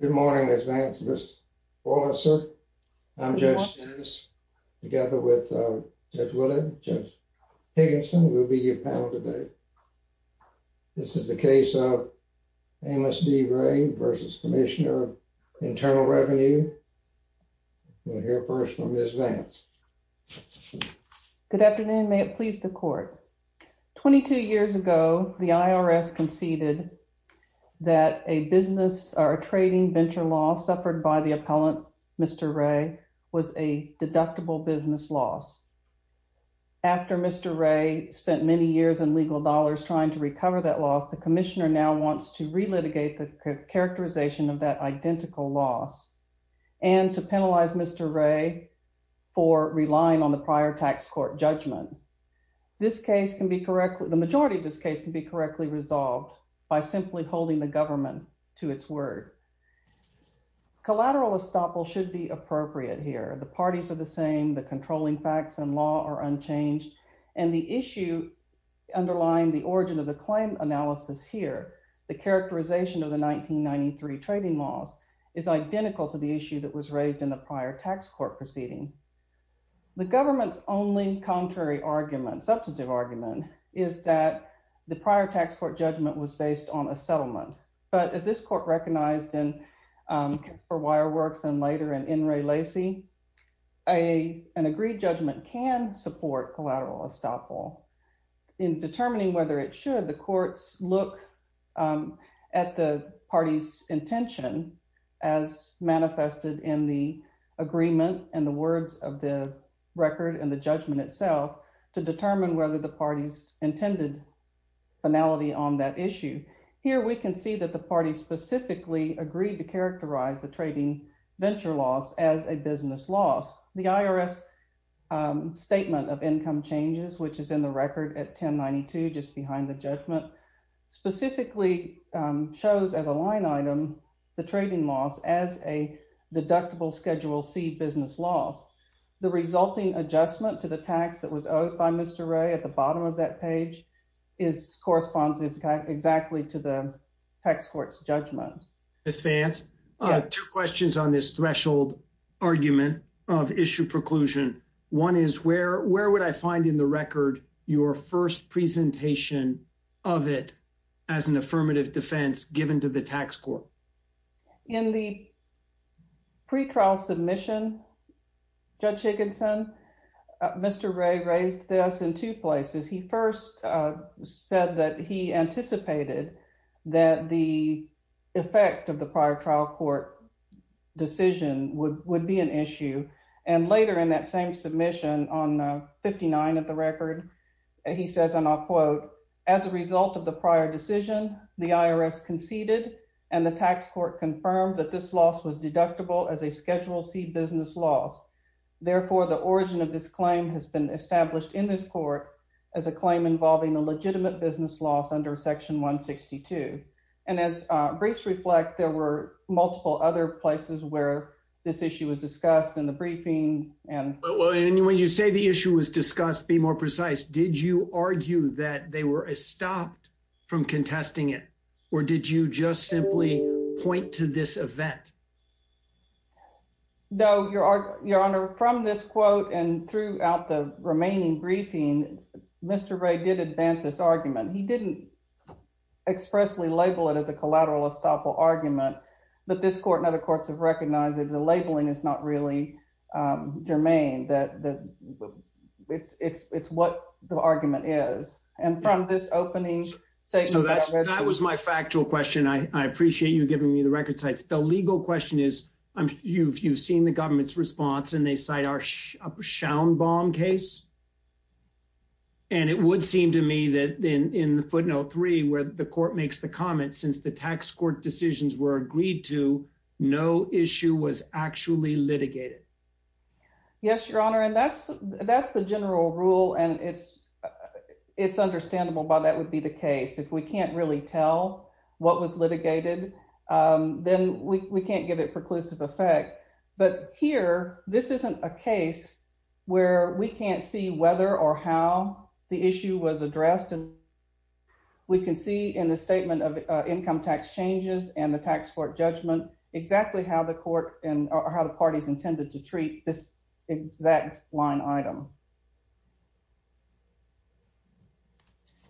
Good morning, Ms. Vance, Mr. Wallace, sir. I'm Judge Dennis, together with Judge Willard, Judge Higginson, who will be your panel today. This is the case of Ames D. Ray v. Commissioner of Internal Revenue. We'll hear first from Ms. Vance. Good afternoon, may it please the court. 22 years ago, the IRS conceded that a business or a trading venture loss suffered by the appellant, Mr. Ray, was a deductible business loss. After Mr. Ray spent many years in legal dollars trying to recover that loss, the commissioner now wants to relitigate the characterization of that identical loss and to penalize Mr. Ray for relying on the prior tax court judgment. This case can be correctly, the majority of this case can be correctly resolved by simply holding the government to its word. Collateral estoppel should be appropriate here. The parties are the same, the controlling facts and law are unchanged. And the issue underlying the origin of the claim analysis here, the characterization of the 1993 trading loss is identical to the issue that was raised in the prior tax court proceeding. The government's only contrary argument, substantive argument, is that the prior tax court judgment was based on a settlement. But as this court recognized in Kitzburgh Wireworks and later in N. Ray Lacey, an agreed judgment can support collateral estoppel. In determining whether it should, the courts look at the party's intention as manifested in the agreement and the words of the record and the judgment itself to determine whether the party's intended finality on that issue. Here we can see that the party specifically agreed to characterize the trading venture loss as a business loss. The IRS statement of income changes, which is in the record at 1092, just behind the judgment, specifically shows as a line item, the trading loss as a deductible Schedule C business loss. The resulting adjustment to the tax that was owed by Mr. Ray at the bottom of that page corresponds exactly to the tax court's judgment. Ms. Vance, two questions on this threshold argument of issue preclusion. One is where would I find in the record your first presentation of it as an affirmative defense given to the tax court? In the pretrial submission, Judge Higginson, Mr. Ray raised this in two places. He first said that he anticipated that the effect of the prior trial court decision would be an issue. And later in that same submission on 59 of the record, he says, and I'll quote, as a result of the prior decision, the IRS conceded and the tax court confirmed that this loss was deductible as a Schedule C business loss. Therefore, the origin of this claim has been established in this court as a claim involving a legitimate business loss under section 162. And as briefs reflect, there were multiple other places where this issue was discussed in the briefing. And- And when you say the issue was discussed, be more precise. Did you argue that they were stopped from contesting it or did you just simply point to this event? No, Your Honor, from this quote and throughout the remaining briefing, Mr. Ray did advance this argument. He didn't expressly label it as a collateral estoppel argument, but this court and other courts have recognized that the labeling is not really germane, that it's what the argument is. And from this opening statement- So that was my factual question. I appreciate you giving me the record sites. The legal question is, you've seen the government's response and they cite our Schaumbaum case. And it would seem to me that in footnote three, where the court makes the comment, since the tax court decisions were agreed to, no issue was actually litigated. Yes, Your Honor. And that's the general rule. And it's understandable why that would be the case. If we can't really tell what was litigated, then we can't give it preclusive effect. But here, this isn't a case where we can't see whether or how the issue was addressed. And we can see in the statement of income tax changes and the tax court judgment exactly how the court and how the parties intended to treat this exact line item.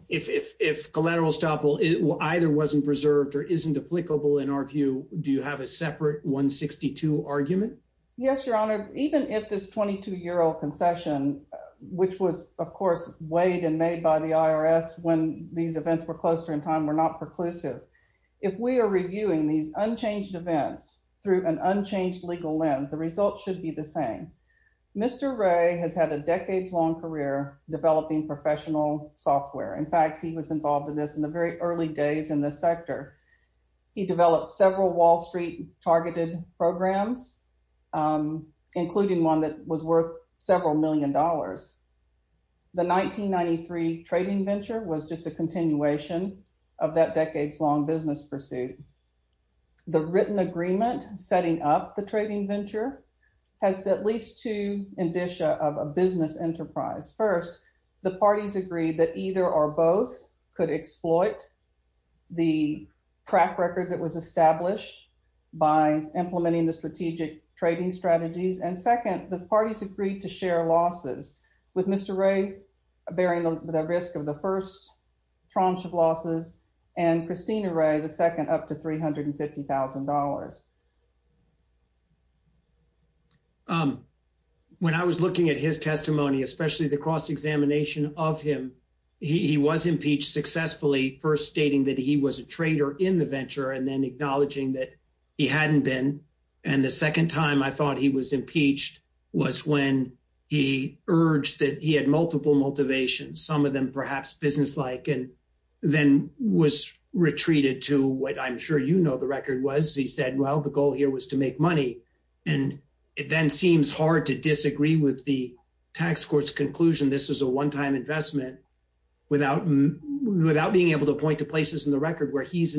If collateral estoppel either wasn't preserved or isn't applicable in our view, do you have a separate 162 argument? Yes, Your Honor. Even if this 22 year old concession, which was of course weighed and made by the IRS when these events were closer in time were not preclusive. If we are reviewing these unchanged events through an unchanged legal lens, the results should be the same. Mr. Ray has had a decades long career developing professional software. In fact, he was involved in this in the very early days in this sector. He developed several Wall Street targeted programs, including one that was worth several million dollars. The 1993 trading venture was just a continuation of that decades long business pursuit. The written agreement setting up the trading venture has at least two indicia of a business enterprise. First, the parties agreed that either or both could exploit the track record that was established by implementing the strategic trading strategies. And second, the parties agreed to share losses with Mr. Ray bearing the risk of the first tranche of losses and Christina Ray, the second up to $350,000. When I was looking at his testimony, especially the cross examination of him, he was impeached successfully, first stating that he was a trader in the venture and then acknowledging that he hadn't been. And the second time I thought he was impeached was when he urged that he had multiple motivations, some of them perhaps business-like, and then was retreated to what I'm sure you know the record was. He said, well, the goal here was to make money. And it then seems hard to disagree with the tax court's conclusion this was a one-time investment without being able to point to places in the record where he's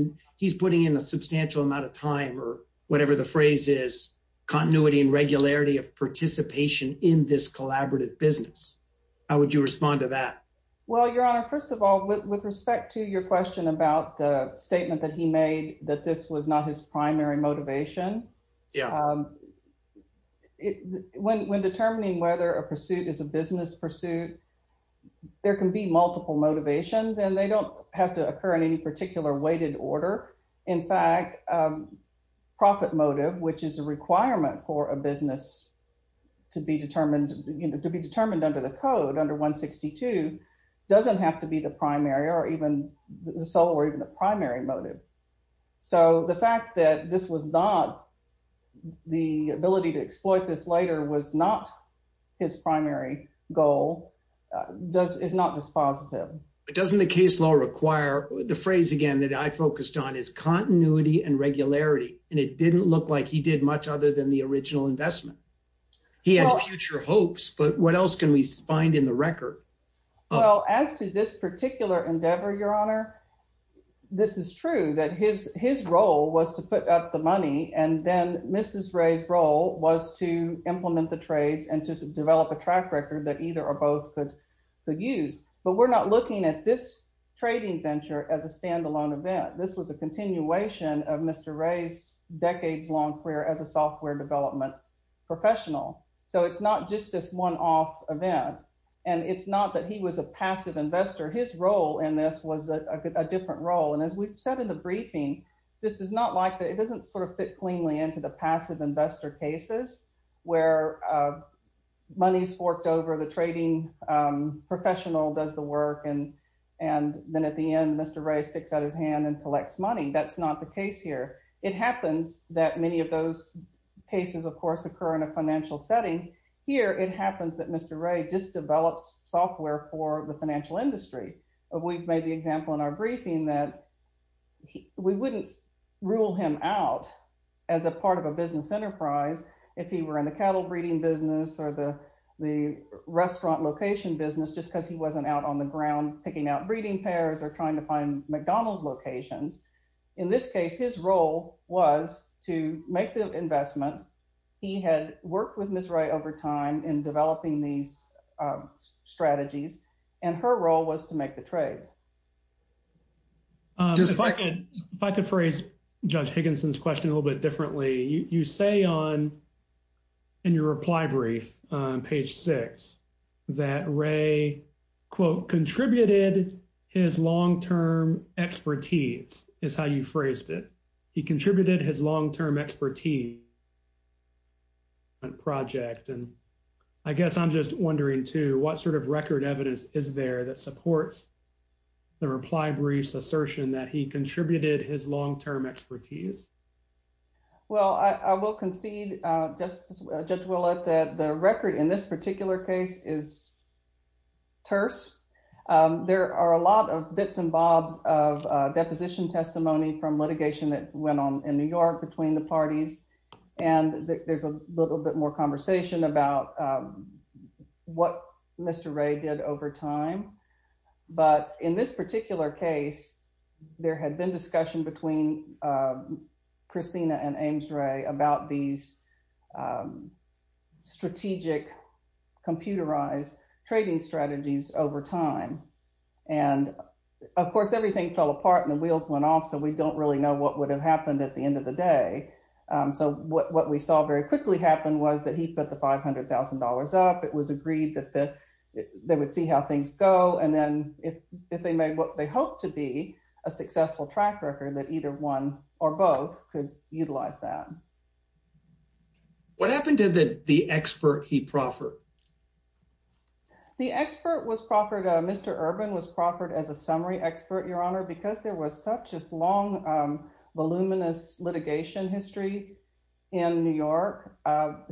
putting in a substantial amount of time or whatever the phrase is, continuity and regularity of participation in this collaborative business. How would you respond to that? Well, Your Honor, first of all, with respect to your question about the statement that he made that this was not his primary motivation, when determining whether a pursuit is a business pursuit, there can be multiple motivations and they don't have to occur in any particular weighted order in fact, profit motive, which is a requirement for a business to be determined under the code, under 162, doesn't have to be the primary or even the sole or even the primary motive. So the fact that this was not his primary motive the ability to exploit this later was not his primary goal. It's not just positive. But doesn't the case law require, the phrase again that I focused on is continuity and regularity. And it didn't look like he did much other than the original investment. He had future hopes, but what else can we find in the record? Well, as to this particular endeavor, Your Honor, this is true that his role was to put up the money and then Mrs. Ray's role was to implement the trades and to develop a track record that either or both could use. But we're not looking at this trading venture as a standalone event. This was a continuation of Mr. Ray's decades long career as a software development professional. So it's not just this one off event. And it's not that he was a passive investor. His role in this was a different role. And as we've said in the briefing, this is not like that. It doesn't sort of fit cleanly into the passive investor cases where money's forked over the trading professional does the work and then at the end, Mr. Ray sticks out his hand and collects money. That's not the case here. It happens that many of those cases, of course, occur in a financial setting. Here, it happens that Mr. Ray just develops software for the financial industry. We've made the example in our briefing that we wouldn't rule him out as a part of a business enterprise if he were in the cattle breeding business or the restaurant location business just because he wasn't out on the ground picking out breeding pairs or trying to find McDonald's locations. In this case, his role was to make the investment. He had worked with Ms. Ray over time in developing these strategies and her role was to make the trades. If I could phrase Judge Higginson's question a little bit differently, you say in your reply brief on page six that Ray, quote, contributed his long-term expertise is how you phrased it. He contributed his long-term expertise project. And I guess I'm just wondering too, what sort of record evidence is there that supports the reply brief's assertion that he contributed his long-term expertise? Well, I will concede, Judge Willett, that the record in this particular case is terse. There are a lot of bits and bobs of deposition testimony from litigation that went on in New York between the parties and there's a little bit more conversation about what Mr. Ray did over time. But in this particular case, there had been discussion between Christina and Ames Ray about these strategic computerized trading strategies over time. And of course, everything fell apart and the wheels went off so we don't really know what would have happened at the end of the day. So what we saw very quickly happen was that he put the $500,000 up. It was agreed that they would see how things go. And then if they made what they hoped to be a successful track record, that either one or both could utilize that. What happened to the expert he proffered? The expert was proffered, Mr. Urban was proffered as a summary expert, Your Honor, because there was such a long, voluminous litigation history in New York.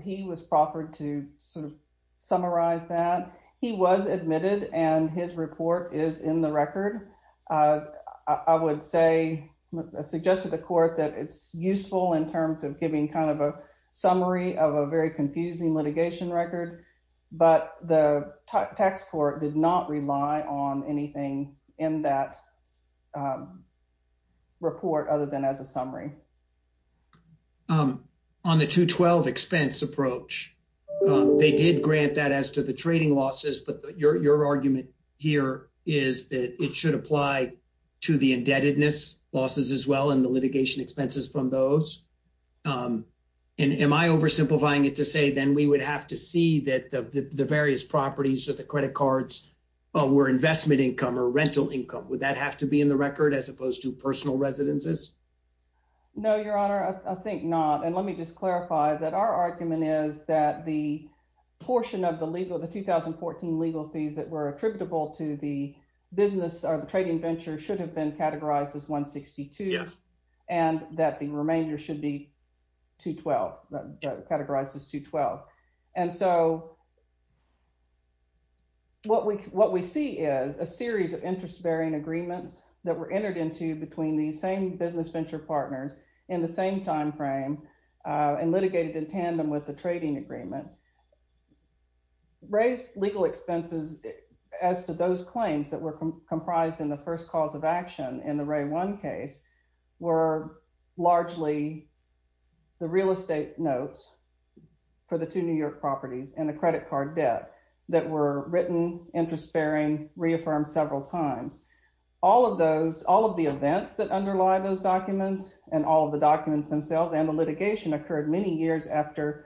He was proffered to sort of summarize that. He was admitted and his report is in the record. I would say, I suggested to the court that it's useful in terms of giving kind of a summary of a very confusing litigation record, but the tax court did not rely on anything in that report other than as a summary. On the 212 expense approach, they did grant that as to the trading losses, but your argument here is that it should apply to the indebtedness losses as well and the litigation expenses from those. And am I oversimplifying it to say, then we would have to see that the various properties or the credit cards were investment income or rental income. Would that have to be in the record as opposed to personal residences? No, Your Honor, I think not. And let me just clarify that our argument is that the portion of the legal, the 2014 legal fees that were attributable to the business or the trading venture should have been categorized as 162 and that the remainder should be 212, categorized as 212. And so what we see is a series of interest bearing agreements that were entered into between these same businesses and business venture partners in the same timeframe and litigated in tandem with the trading agreement. Raised legal expenses as to those claims that were comprised in the first cause of action in the Ray-1 case were largely the real estate notes for the two New York properties and the credit card debt that were written, interest bearing, reaffirmed several times. All of the events that underlie those documents and all of the documents themselves and the litigation occurred many years after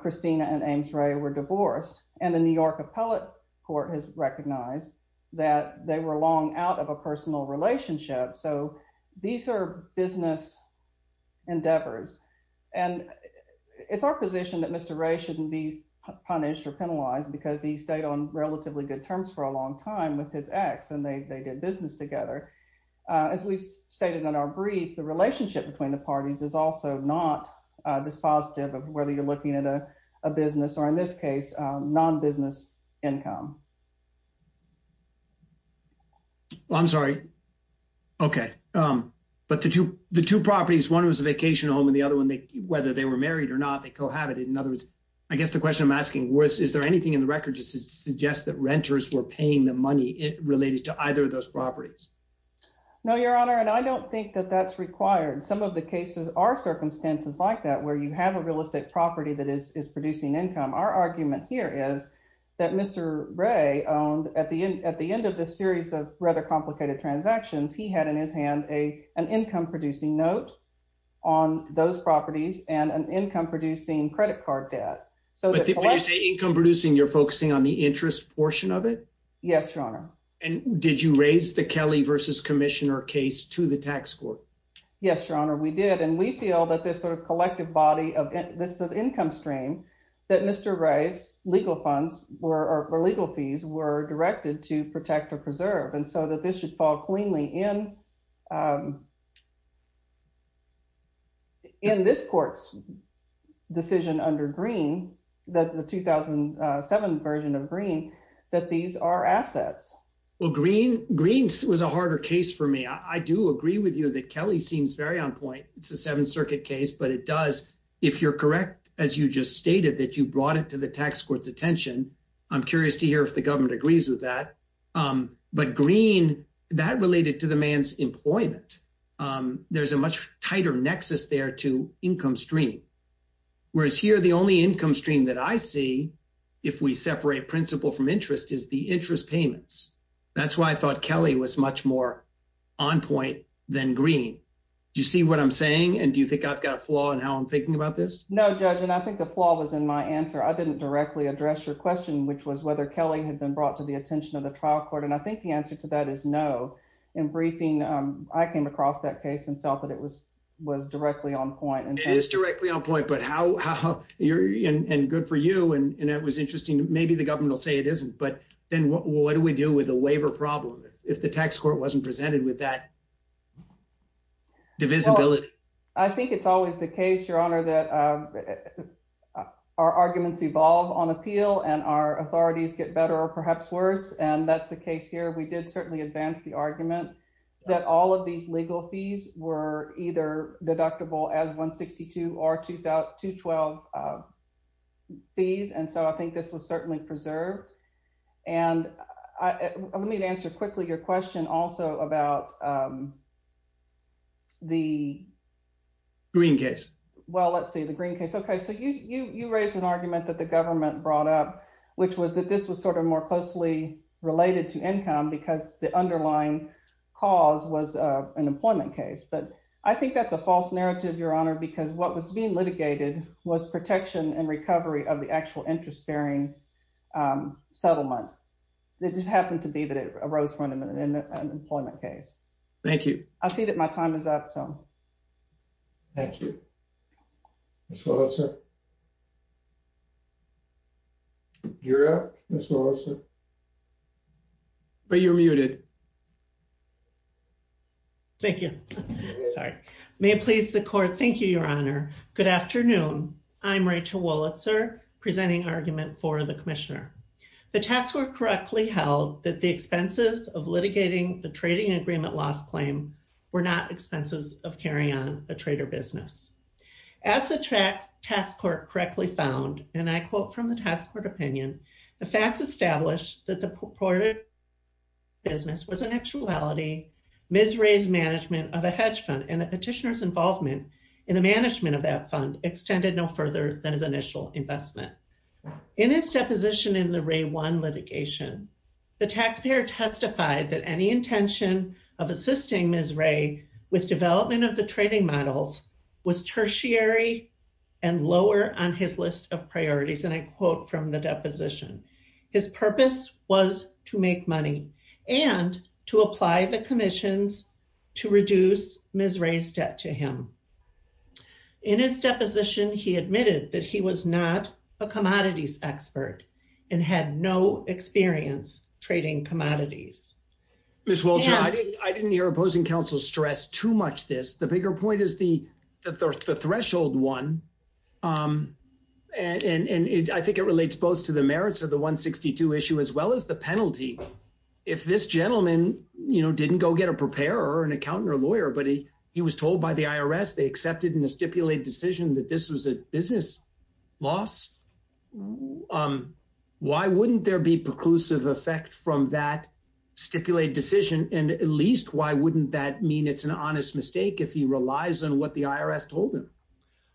Christina and Ames Ray were divorced and the New York appellate court has recognized that they were long out of a personal relationship. So these are business endeavors and it's our position that Mr. Ray shouldn't be punished or penalized because he stayed on relatively good terms for a long time with his ex and they did business together. As we've stated on our brief, the relationship between the parties is also not dispositive of whether you're looking at a business or in this case, non-business income. Well, I'm sorry. Okay, but the two properties, one was a vacation home and the other one, whether they were married or not, they cohabited. In other words, I guess the question I'm asking is there anything in the record just to suggest that renters were paying the money related to either of those properties? No, Your Honor and I don't think that that's required. Some of the cases are circumstances like that where you have a realistic property that is producing income. Our argument here is that Mr. Ray owned at the end of this series of rather complicated transactions he had in his hand an income producing note on those properties and an income producing credit card debt. So- When you say income producing, you're focusing on the interest portion of it? Yes, Your Honor. And did you raise the Kelly versus Commissioner case to the tax court? Yes, Your Honor, we did. And we feel that this sort of collective body of this income stream, that Mr. Ray's legal funds or legal fees were directed to protect or preserve. And so that this should fall cleanly in this court's decision under Greene that the 2007 version of Greene, that these are assets. Well, Greene was a harder case for me. I do agree with you that Kelly seems very on point. It's a Seventh Circuit case, but it does. If you're correct, as you just stated that you brought it to the tax court's attention. I'm curious to hear if the government agrees with that. But Greene, that related to the man's employment. There's a much tighter nexus there to income stream. Whereas here, the only income stream that I see if we separate principal from interest is the interest payments. That's why I thought Kelly was much more on point than Greene. Do you see what I'm saying? And do you think I've got a flaw in how I'm thinking about this? No, Judge, and I think the flaw was in my answer. I didn't directly address your question, which was whether Kelly had been brought to the attention of the trial court. And I think the answer to that is no. In briefing, I came across that case and felt that it was directly on point. It is directly on point, but how, and good for you, and it was interesting. Maybe the government will say it isn't, but then what do we do with the waiver problem if the tax court wasn't presented with that divisibility? I think it's always the case, Your Honor, that our arguments evolve on appeal and our authorities get better or perhaps worse. And that's the case here. We did certainly advance the argument that all of these legal fees were either deductible as 162 or 212 fees. And so I think this was certainly preserved. And let me answer quickly your question also about the- Green case. Well, let's say the green case. Okay, so you raised an argument that the government brought up, which was that this was sort of more closely related to income because the underlying cause was an employment case. But I think that's a false narrative, Your Honor, because what was being litigated was protection and recovery of the actual interest bearing settlement. It just happened to be that it arose from an employment case. Thank you. I see that my time is up, so. Thank you. Ms. Wilson. You're up, Ms. Wilson, but you're muted. Thank you. Sorry. May it please the court. Thank you, Your Honor. Good afternoon. I'm Rachel Wolitzer presenting argument for the commissioner. The tax court correctly held that the expenses of litigating the trading agreement loss claim were not expenses of carrying on a trader business. As the tax court correctly found, and I quote from the task court opinion, the facts established that the purported business was in actuality Ms. Ray's management of a hedge fund and the petitioner's involvement in the management of that fund extended no further than his initial investment. In his deposition in the Ray 1 litigation, the taxpayer testified that any intention of assisting Ms. Ray with development of the trading models was tertiary and lower on his list of priorities. And I quote from the deposition, his purpose was to make money and to apply the commissions to reduce Ms. Ray's debt to him. In his deposition, he admitted that he was not a commodities expert and had no experience trading commodities. Ms. Wolitzer, I didn't hear opposing counsel stress too much this. The bigger point is the threshold one. And I think it relates both to the merits of the 162 issue as well as the penalty. If this gentleman, you know, didn't go get a preparer or an accountant or lawyer, but he was told by the IRS, they accepted in a stipulated decision that this was a business loss, why wouldn't there be preclusive effect from that stipulated decision? And at least why wouldn't that mean it's an honest mistake if he relies on what the IRS told him?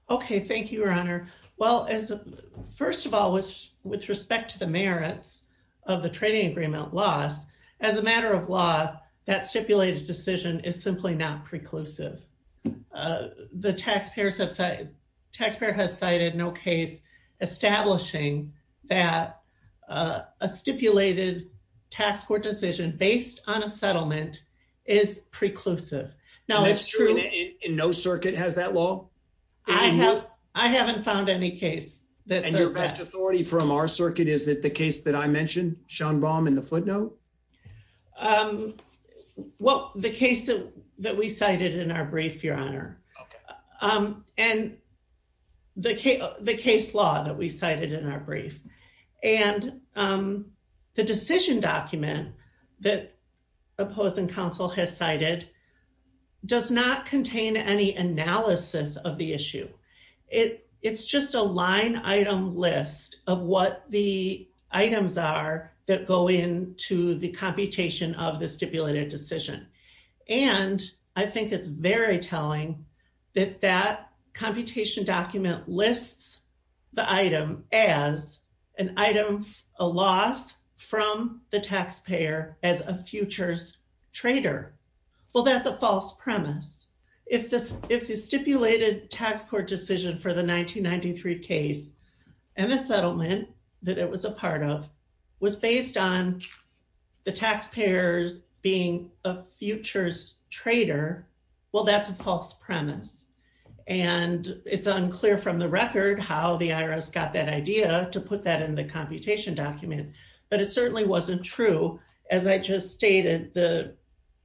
Okay, thank you, your honor. Well, first of all, with respect to the merits of the trading agreement loss, as a matter of law, that stipulated decision is simply not preclusive. Taxpayer has cited no case establishing that a stipulated tax court decision based on a settlement is preclusive. Now it's true- And that's true in no circuit has that law? I haven't found any case that says that. And your best authority from our circuit is that the case that I mentioned, Sean Baum in the footnote? Well, the case that we cited in our brief, your honor. And the case law that we cited in our brief. And the decision document that opposing counsel has cited does not contain any analysis of the issue. It's just a line item list of what the items are that go into the computation of the stipulated decision. And I think it's very telling that that computation document lists the item as an item of a loss from the taxpayer as a futures trader. Well, that's a false premise. If the stipulated tax court decision for the 1993 case and the settlement that it was a part of was based on the taxpayers being a futures trader, well, that's a false premise. And it's unclear from the record how the IRS got that idea to put that in the computation document, but it certainly wasn't true. As I just stated, the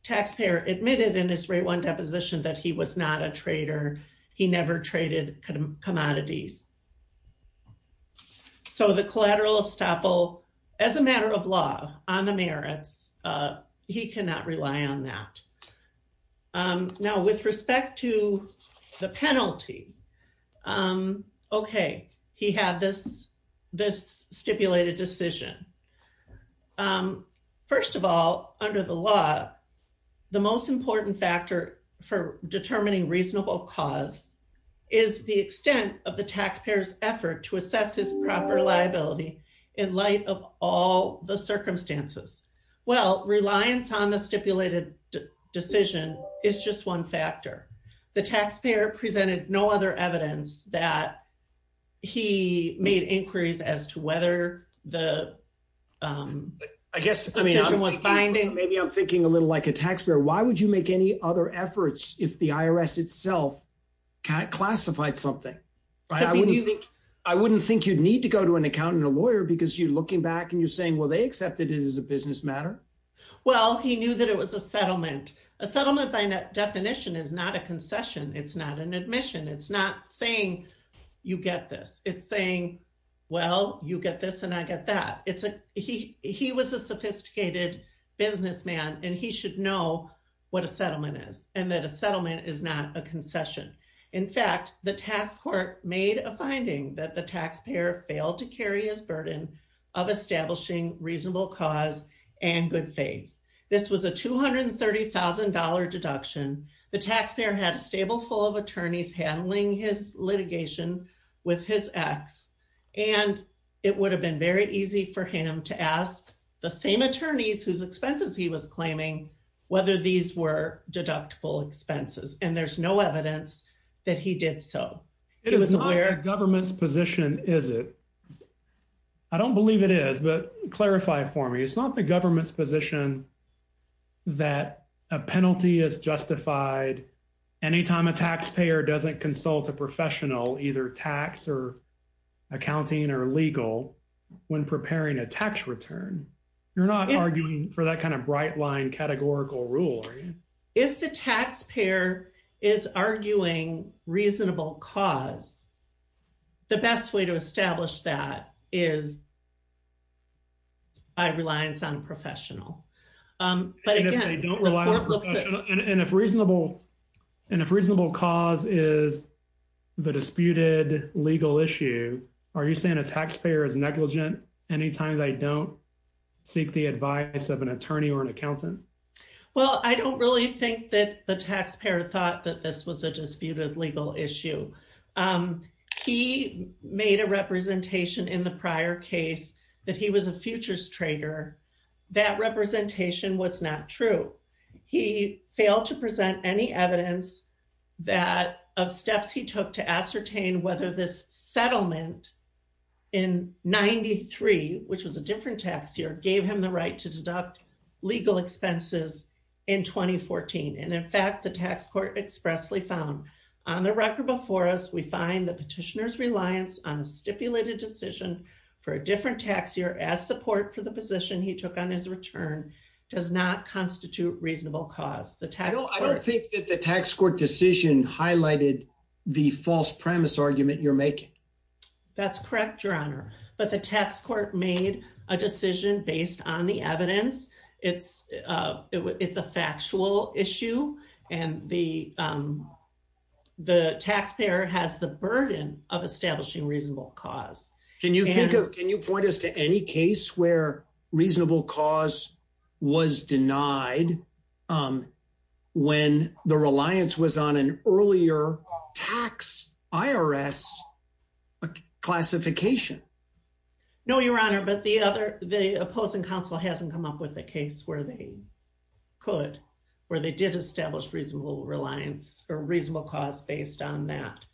taxpayer admitted in his rate one deposition that he was not a trader. He never traded commodities. So the collateral estoppel, as a matter of law on the merits, he cannot rely on that. Now, with respect to the penalty, okay, he had this stipulated decision. First of all, under the law, the most important factor for determining reasonable cause is the extent of the taxpayer's effort to assess his proper liability in light of all the circumstances. Well, reliance on the stipulated decision is just one factor. The taxpayer presented no other evidence that he made inquiries as to whether the... I guess- Decision was binding. Maybe I'm thinking a little like a taxpayer. Why would you make any other efforts if the IRS itself classified something? I wouldn't think you'd need to go to an accountant or lawyer because you're looking back and you're saying, well, they accepted it as a business matter. Well, he knew that it was a settlement. A settlement by definition is not a concession. It's not an admission. It's not saying you get this. It's saying, well, you get this and I get that. He was a sophisticated businessman and he should know what a settlement is and that a settlement is not a concession. In fact, the tax court made a finding that the taxpayer failed to carry his burden of establishing reasonable cause and good faith. This was a $230,000 deduction. The taxpayer had a stable full of attorneys handling his litigation with his ex. And it would have been very easy for him to ask the same attorneys whose expenses he was claiming whether these were deductible expenses. And there's no evidence that he did so. He was aware- It's not the government's position, is it? I don't believe it is, but clarify it for me. It's not the government's position that a penalty is justified anytime a taxpayer doesn't consult a professional either tax or accounting or legal when preparing a tax return. You're not arguing for that kind of bright line categorical rule, are you? If the taxpayer is arguing reasonable cause, the best way to establish that is by reliance on a professional. But again- And if they don't rely on a professional and if reasonable cause is the disputed legal issue, are you saying a taxpayer is negligent anytime they don't seek the advice of an attorney or an accountant? Well, I don't really think that the taxpayer thought that this was a disputed legal issue. He made a representation in the prior case that he was a futures trader. That representation was not true. He failed to present any evidence that of steps he took to ascertain whether this settlement in 93, which was a different tax year, gave him the right to deduct legal expenses in 2014. And in fact, the tax court expressly found, on the record before us, we find the petitioner's reliance on a stipulated decision for a different tax year as support for the position he took on his return does not constitute reasonable cause. The tax court- Did the tax court decision highlighted the false premise argument you're making? That's correct, Your Honor. But the tax court made a decision based on the evidence. It's a factual issue. And the taxpayer has the burden of establishing reasonable cause. Can you point us to any case where reasonable cause was denied when the reliance was on an earlier tax IRS classification? No, Your Honor, but the opposing counsel hasn't come up with a case where they could, where they did establish reasonable cause based on that.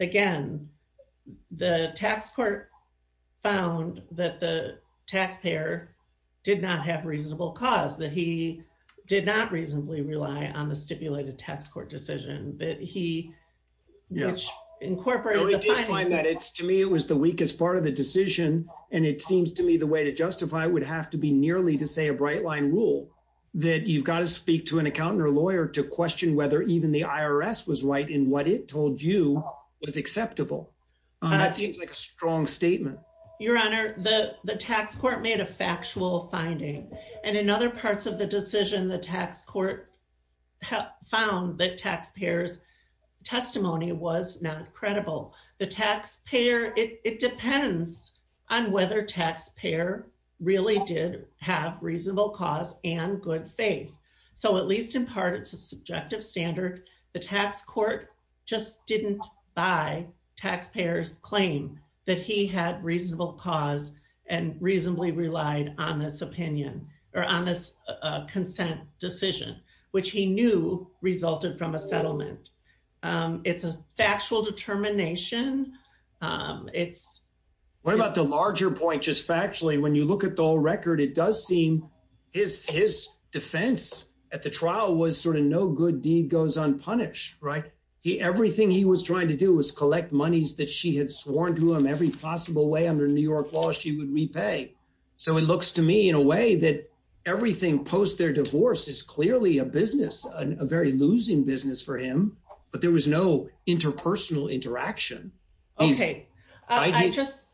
Again, the tax court found that the taxpayer did not have reasonable cause. That he did not reasonably rely on the stipulated tax court decision, that he incorporated the findings- No, he did find that. To me, it was the weakest part of the decision. And it seems to me the way to justify it would have to be nearly to say a bright line rule that you've got to speak to an accountant or lawyer to question whether even the IRS was right in what it told you was acceptable. That seems like a strong statement. Your Honor, the tax court made a factual finding. And in other parts of the decision, the tax court found that taxpayer's testimony was not credible. The taxpayer, it depends on whether taxpayer really did have reasonable cause and good faith. So at least in part, it's a subjective standard. The tax court just didn't buy taxpayer's claim that he had reasonable cause and reasonably relied on this opinion or on this consent decision, which he knew resulted from a settlement. It's a factual determination. What about the larger point, just factually, when you look at the whole record, it does seem his defense at the trial was sort of no good deed goes unpunished, right? Everything he was trying to do was collect monies that she had sworn to him every possible way under New York law, she would repay. So it looks to me in a way that everything post their divorce is clearly a business, a very losing business for him, but there was no interpersonal interaction. Okay, I just,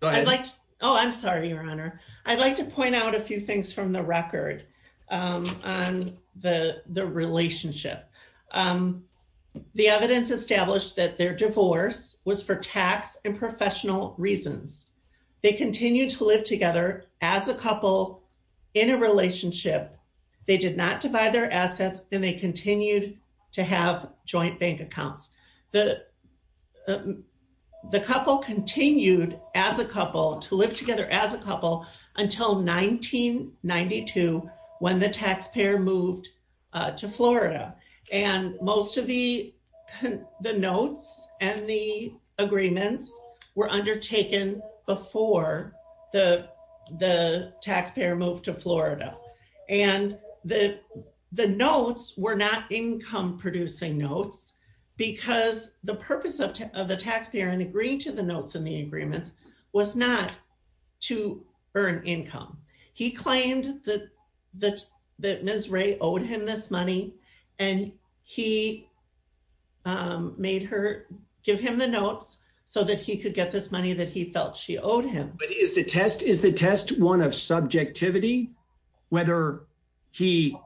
go ahead. Oh, I'm sorry, Your Honor. I'd like to point out a few things from the record on the relationship. The evidence established that their divorce was for tax and professional reasons. They continued to live together as a couple in a relationship. They did not divide their assets and they continued to have joint bank accounts. The couple continued as a couple to live together as a couple until 1992 when the taxpayer moved to Florida. And most of the notes and the agreements were undertaken before the taxpayer moved to Florida. And the notes were not income producing notes because the purpose of the taxpayer in agreeing to the notes and the agreements was not to earn income. He claimed that Ms. Ray owed him this money and he made her give him the notes so that he could get this money that he felt she owed him. But is the test one of subjectivity? Whether he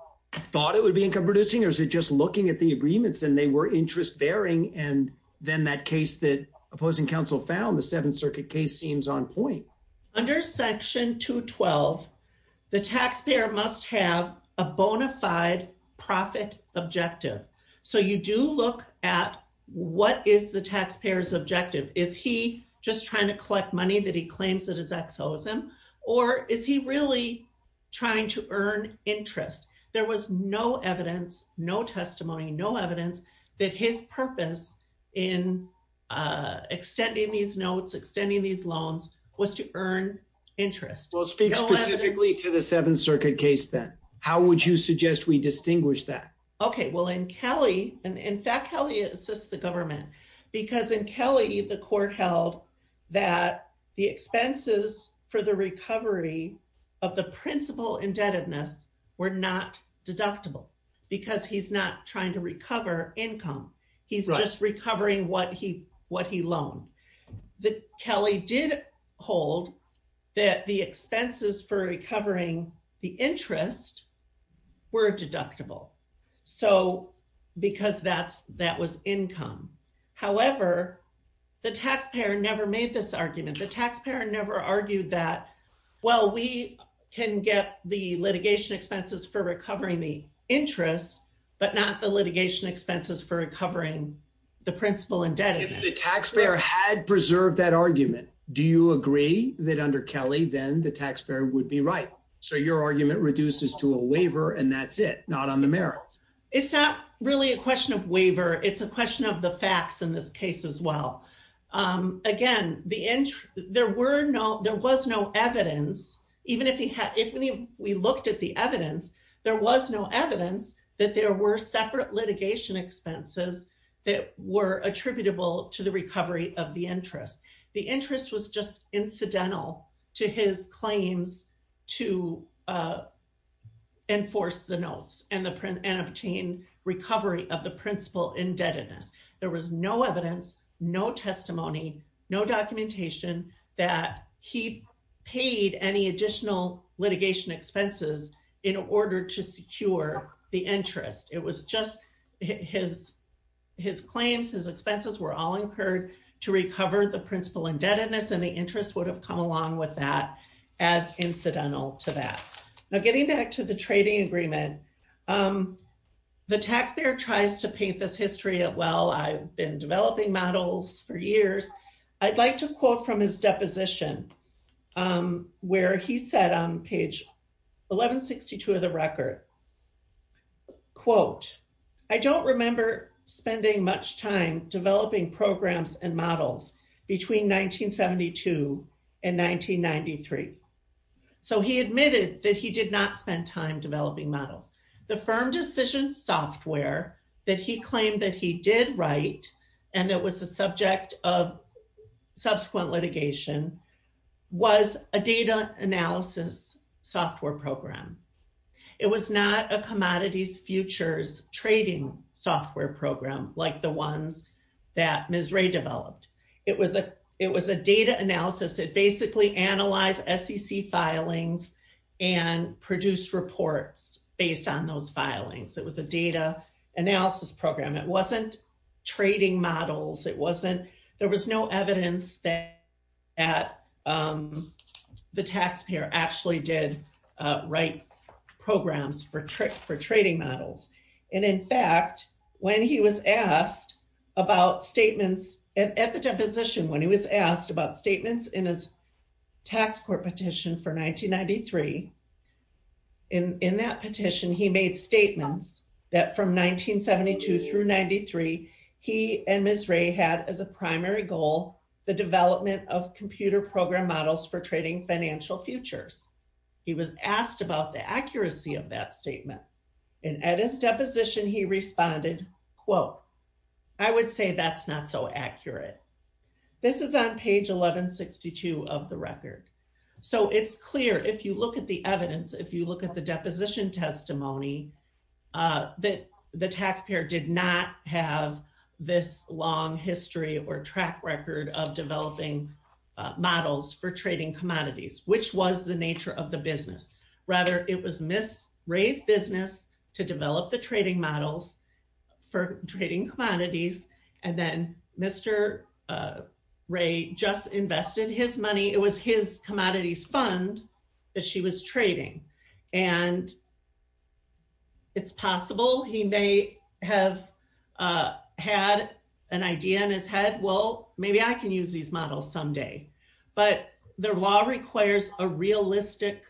thought it would be income producing or is it just looking at the agreements and they were interest bearing and then that case that opposing counsel found, the Seventh Circuit case seems on point. Under section 212, the taxpayer must have a bona fide profit objective. So you do look at what is the taxpayer's objective? Is he just trying to collect money that he claims that his ex owes him or is he really trying to earn interest? There was no evidence, no testimony, no evidence that his purpose in extending these notes, extending these loans was to earn interest. Well, speak specifically to the Seventh Circuit case then. How would you suggest we distinguish that? Okay, well, in Kelly, and in fact, Kelly assists the government because in Kelly, the court held that the expenses for the recovery of the principal indebtedness were not deductible because he's not trying to recover income. He's just recovering what he loaned. Kelly did hold that the expenses for recovering the interest were deductible. So, because that was income. However, the taxpayer never made this argument. The taxpayer never argued that, well, we can get the litigation expenses for recovering the interest, but not the litigation expenses for recovering the principal indebtedness. The taxpayer had preserved that argument. Do you agree that under Kelly, then the taxpayer would be right? So, your argument reduces to a waiver and that's it, not on the merits. It's not really a question of waiver. It's a question of the facts in this case as well. Again, there was no evidence, even if we looked at the evidence, there was no evidence that there were separate litigation expenses that were attributable to the recovery of the interest. The interest was just incidental to his claims to enforce the notes and obtain recovery of the principal indebtedness. There was no evidence, no testimony, no documentation that he paid any additional litigation expenses in order to secure the interest. It was just his claims, his expenses were all incurred to recover the principal indebtedness and the interest would have come along with that as incidental to that. Now, getting back to the trading agreement, the taxpayer tries to paint this history at, well, I've been developing models for years. I'd like to quote from his deposition where he said on page 1162 of the record, quote, I don't remember spending much time developing programs and models between 1972 and 1993. So he admitted that he did not spend time developing models. The firm decision software that he claimed that he did write and that was the subject of subsequent litigation was a data analysis software program. It was not a commodities futures trading software program like the ones that Ms. Ray developed. It was a data analysis. It basically analyze SEC filings and produce reports based on those filings. It was a data analysis program. It wasn't trading models. that the taxpayer actually did write those models programs for trading models. And in fact, when he was asked about statements at the deposition, when he was asked about statements in his tax court petition for 1993, in that petition, he made statements that from 1972 through 93, he and Ms. Ray had as a primary goal, the development of computer program models for trading financial futures. He was asked about the accuracy of that statement. And at his deposition, he responded, quote, I would say that's not so accurate. This is on page 1162 of the record. So it's clear if you look at the evidence, if you look at the deposition testimony, that the taxpayer did not have this long history or track record of developing models for trading commodities, which was the nature of the business. Rather, it was Ms. Ray's business to develop the trading models for trading commodities. And then Mr. Ray just invested his money. It was his commodities fund that she was trading. And it's possible he may have had an idea in his head. Well, maybe I can use these models someday. But the law requires a realistic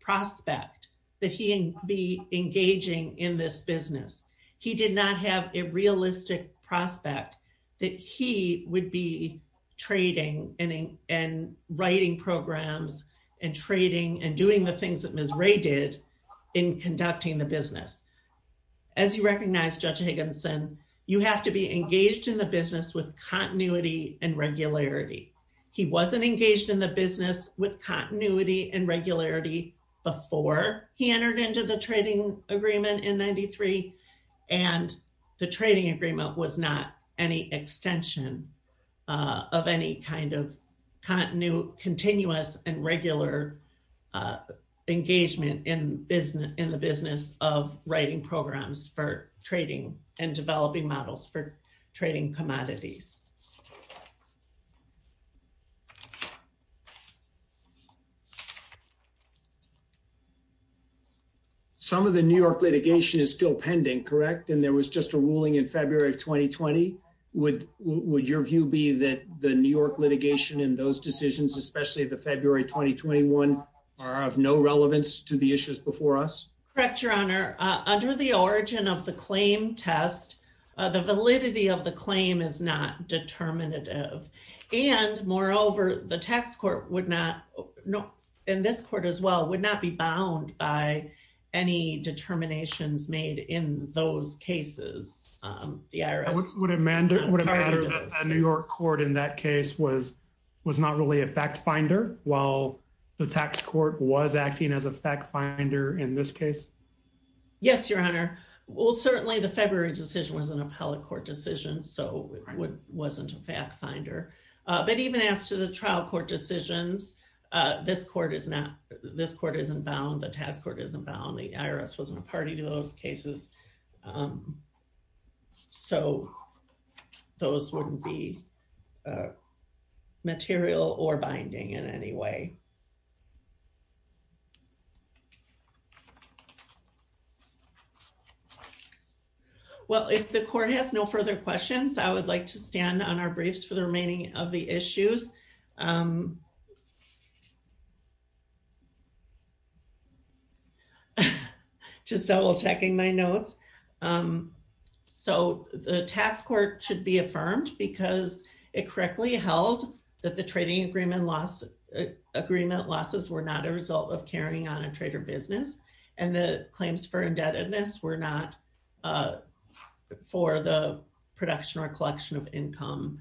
prospect that he be engaging in this business. He did not have a realistic prospect that he would be trading and writing programs and trading and doing the things that Ms. Ray did in conducting the business. As you recognize, Judge Higginson, you have to be engaged in the business with continuity and regularity. He wasn't engaged in the business with continuity and regularity before he entered into the trading agreement in 93. And the trading agreement was not any extension of any kind of continuous and regular engagement in the business of writing programs for trading and developing models for trading commodities. Thank you. Some of the New York litigation is still pending, correct? And there was just a ruling in February of 2020. Would your view be that the New York litigation and those decisions, especially the February 2021 are of no relevance to the issues before us? Correct, Your Honor. Under the origin of the claim test, the validity of the claim is not determinative. And moreover, the tax court would not, and this court as well, would not be bound by any determinations made in those cases. The IRS- Would it matter that a New York court in that case was not really a fact finder while the tax court was acting as a fact finder in this case? Yes, Your Honor. Well, certainly the February decision was an appellate court decision, so it wasn't a fact finder. But even as to the trial court decisions, this court is not, this court isn't bound, the tax court isn't bound, the IRS wasn't a party to those cases. So those wouldn't be material or binding in any way. Thank you. Well, if the court has no further questions, I would like to stand on our briefs for the remaining of the issues. Just double checking my notes. So the tax court should be affirmed because it correctly held that the trading agreement losses were not a result of carrying on a trader business. And the claims for indebtedness were not for the production or collection of income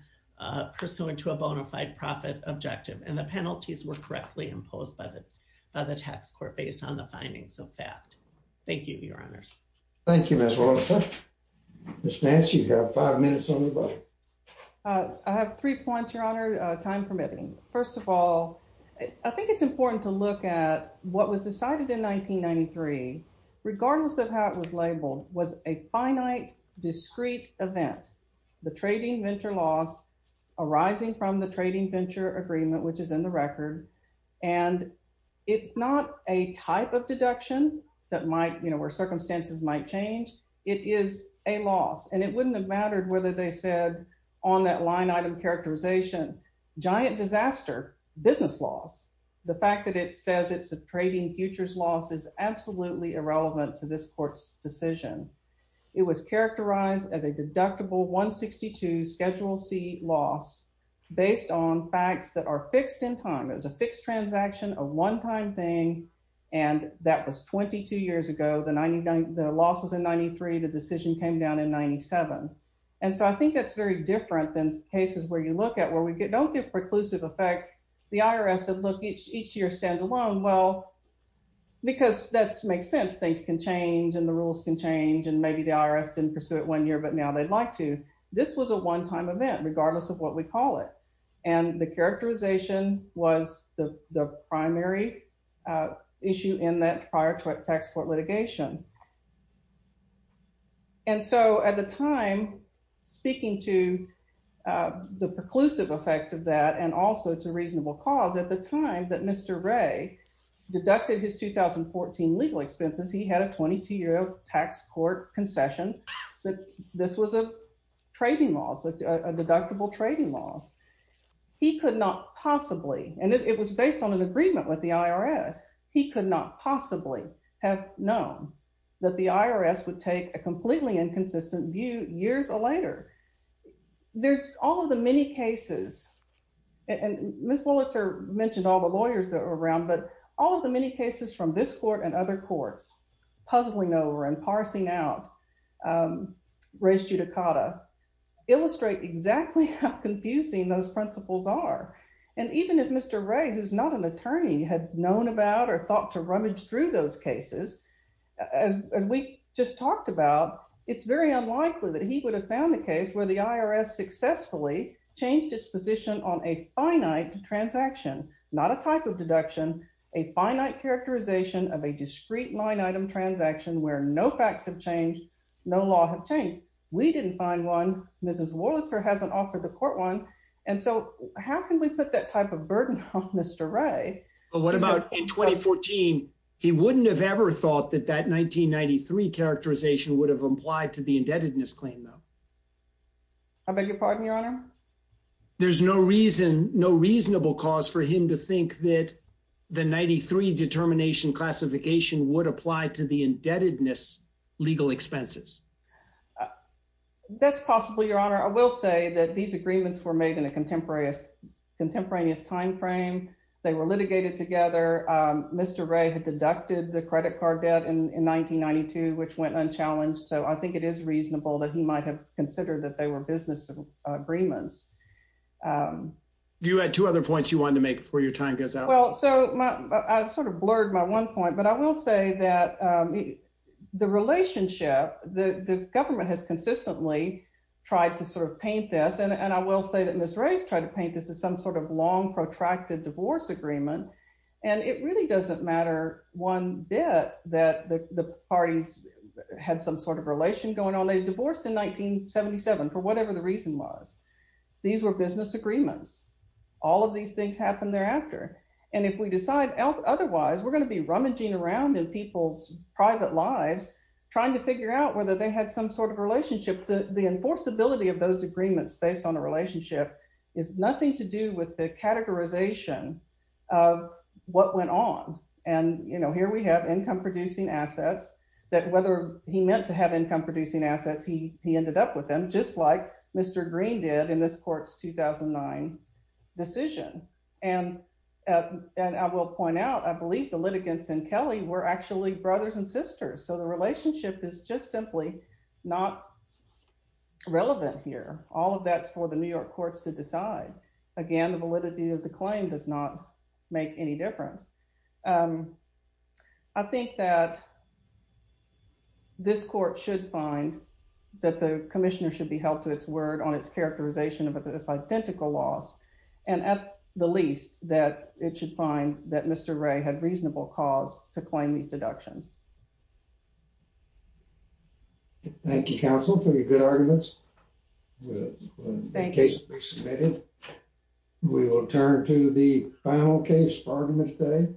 pursuant to a bona fide profit objective. And the penalties were correctly imposed by the tax court based on the findings of fact. Thank you, Your Honors. Thank you, Ms. Wilson. Ms. Nance, you have five minutes on the vote. I have three points, Your Honor, time permitting. First of all, I think it's important to look at what was decided in 1993, regardless of how it was labeled, was a finite discrete event. The trading venture loss arising from the trading venture agreement, which is in the record. And it's not a type of deduction that might, you know, where circumstances might change, it is a loss. And it wouldn't have mattered whether they said on that line item characterization, giant disaster, business loss. The fact that it says it's a trading futures loss is absolutely irrelevant to this court's decision. It was characterized as a deductible 162 Schedule C loss based on facts that are fixed in time. It was a fixed transaction, a one-time thing. And that was 22 years ago, the loss was in 93, the decision came down in 97. And so I think that's very different than cases where you look at where we don't get preclusive effect. The IRS said, look, each year stands alone. Well, because that makes sense, things can change and the rules can change and maybe the IRS didn't pursue it one year, but now they'd like to. This was a one-time event, regardless of what we call it. And the characterization was the primary issue in that prior to a tax court litigation. And so at the time, speaking to the preclusive effect of that and also to reasonable cause at the time that Mr. Ray deducted his 2014 legal expenses, he had a 22 year old tax court concession that this was a trading loss, a deductible trading loss. He could not possibly, and it was based on an agreement with the IRS. He could not possibly have known that the IRS would take a completely inconsistent view years later. There's all of the many cases and Ms. Wollitzer mentioned all the lawyers that were around, but all of the many cases from this court and other courts puzzling over and parsing out race judicata illustrate exactly how confusing those principles are. And even if Mr. Ray, who's not an attorney, had known about or thought to rummage through those cases, as we just talked about, it's very unlikely that he would have found a case where the IRS successfully changed its position on a finite transaction, not a type of deduction, a finite characterization of a discrete line item transaction where no facts have changed, no law have changed. We didn't find one. Mrs. Wollitzer hasn't offered the court one. And so how can we put that type of burden on Mr. Ray? But what about in 2014? He wouldn't have ever thought that that 1993 characterization would have applied to the indebtedness claim, though. I beg your pardon, Your Honor? There's no reason, no reasonable cause for him to think that the 93 determination classification would apply to the indebtedness legal expenses. That's possible, Your Honor. I will say that these agreements were made in a contemporaneous timeframe. They were litigated together. Mr. Ray had deducted the credit card debt in 1992, which went unchallenged. So I think it is reasonable that he might have considered that they were business agreements. You had two other points you wanted to make before your time goes out. Well, so I sort of blurred my one point, but I will say that the relationship, the government has consistently tried to sort of paint this. And I will say that Ms. Ray's tried to paint this as some sort of long protracted divorce agreement. And it really doesn't matter one bit that the parties had some sort of relation going on. They divorced in 1977 for whatever the reason was. These were business agreements. All of these things happened thereafter. And if we decide otherwise, we're gonna be rummaging around in people's private lives, trying to figure out whether they had some sort of relationship. The enforceability of those agreements based on the relationship is nothing to do with the categorization of what went on. And here we have income producing assets that whether he meant to have income producing assets, he ended up with them, just like Mr. Green did in this court's 2009 decision. And I will point out, I believe the litigants and Kelly were actually brothers and sisters. So the relationship is just simply not relevant here. All of that's for the New York courts to decide. Again, the validity of the claim does not make any difference. I think that this court should find that the commissioner should be held to its word on its characterization of this identical loss. And at the least that it should find that Mr. Ray had reasonable cause to claim these deductions. Thank you, counsel for your good arguments. The case will be submitted. We will turn to the final case for argument today.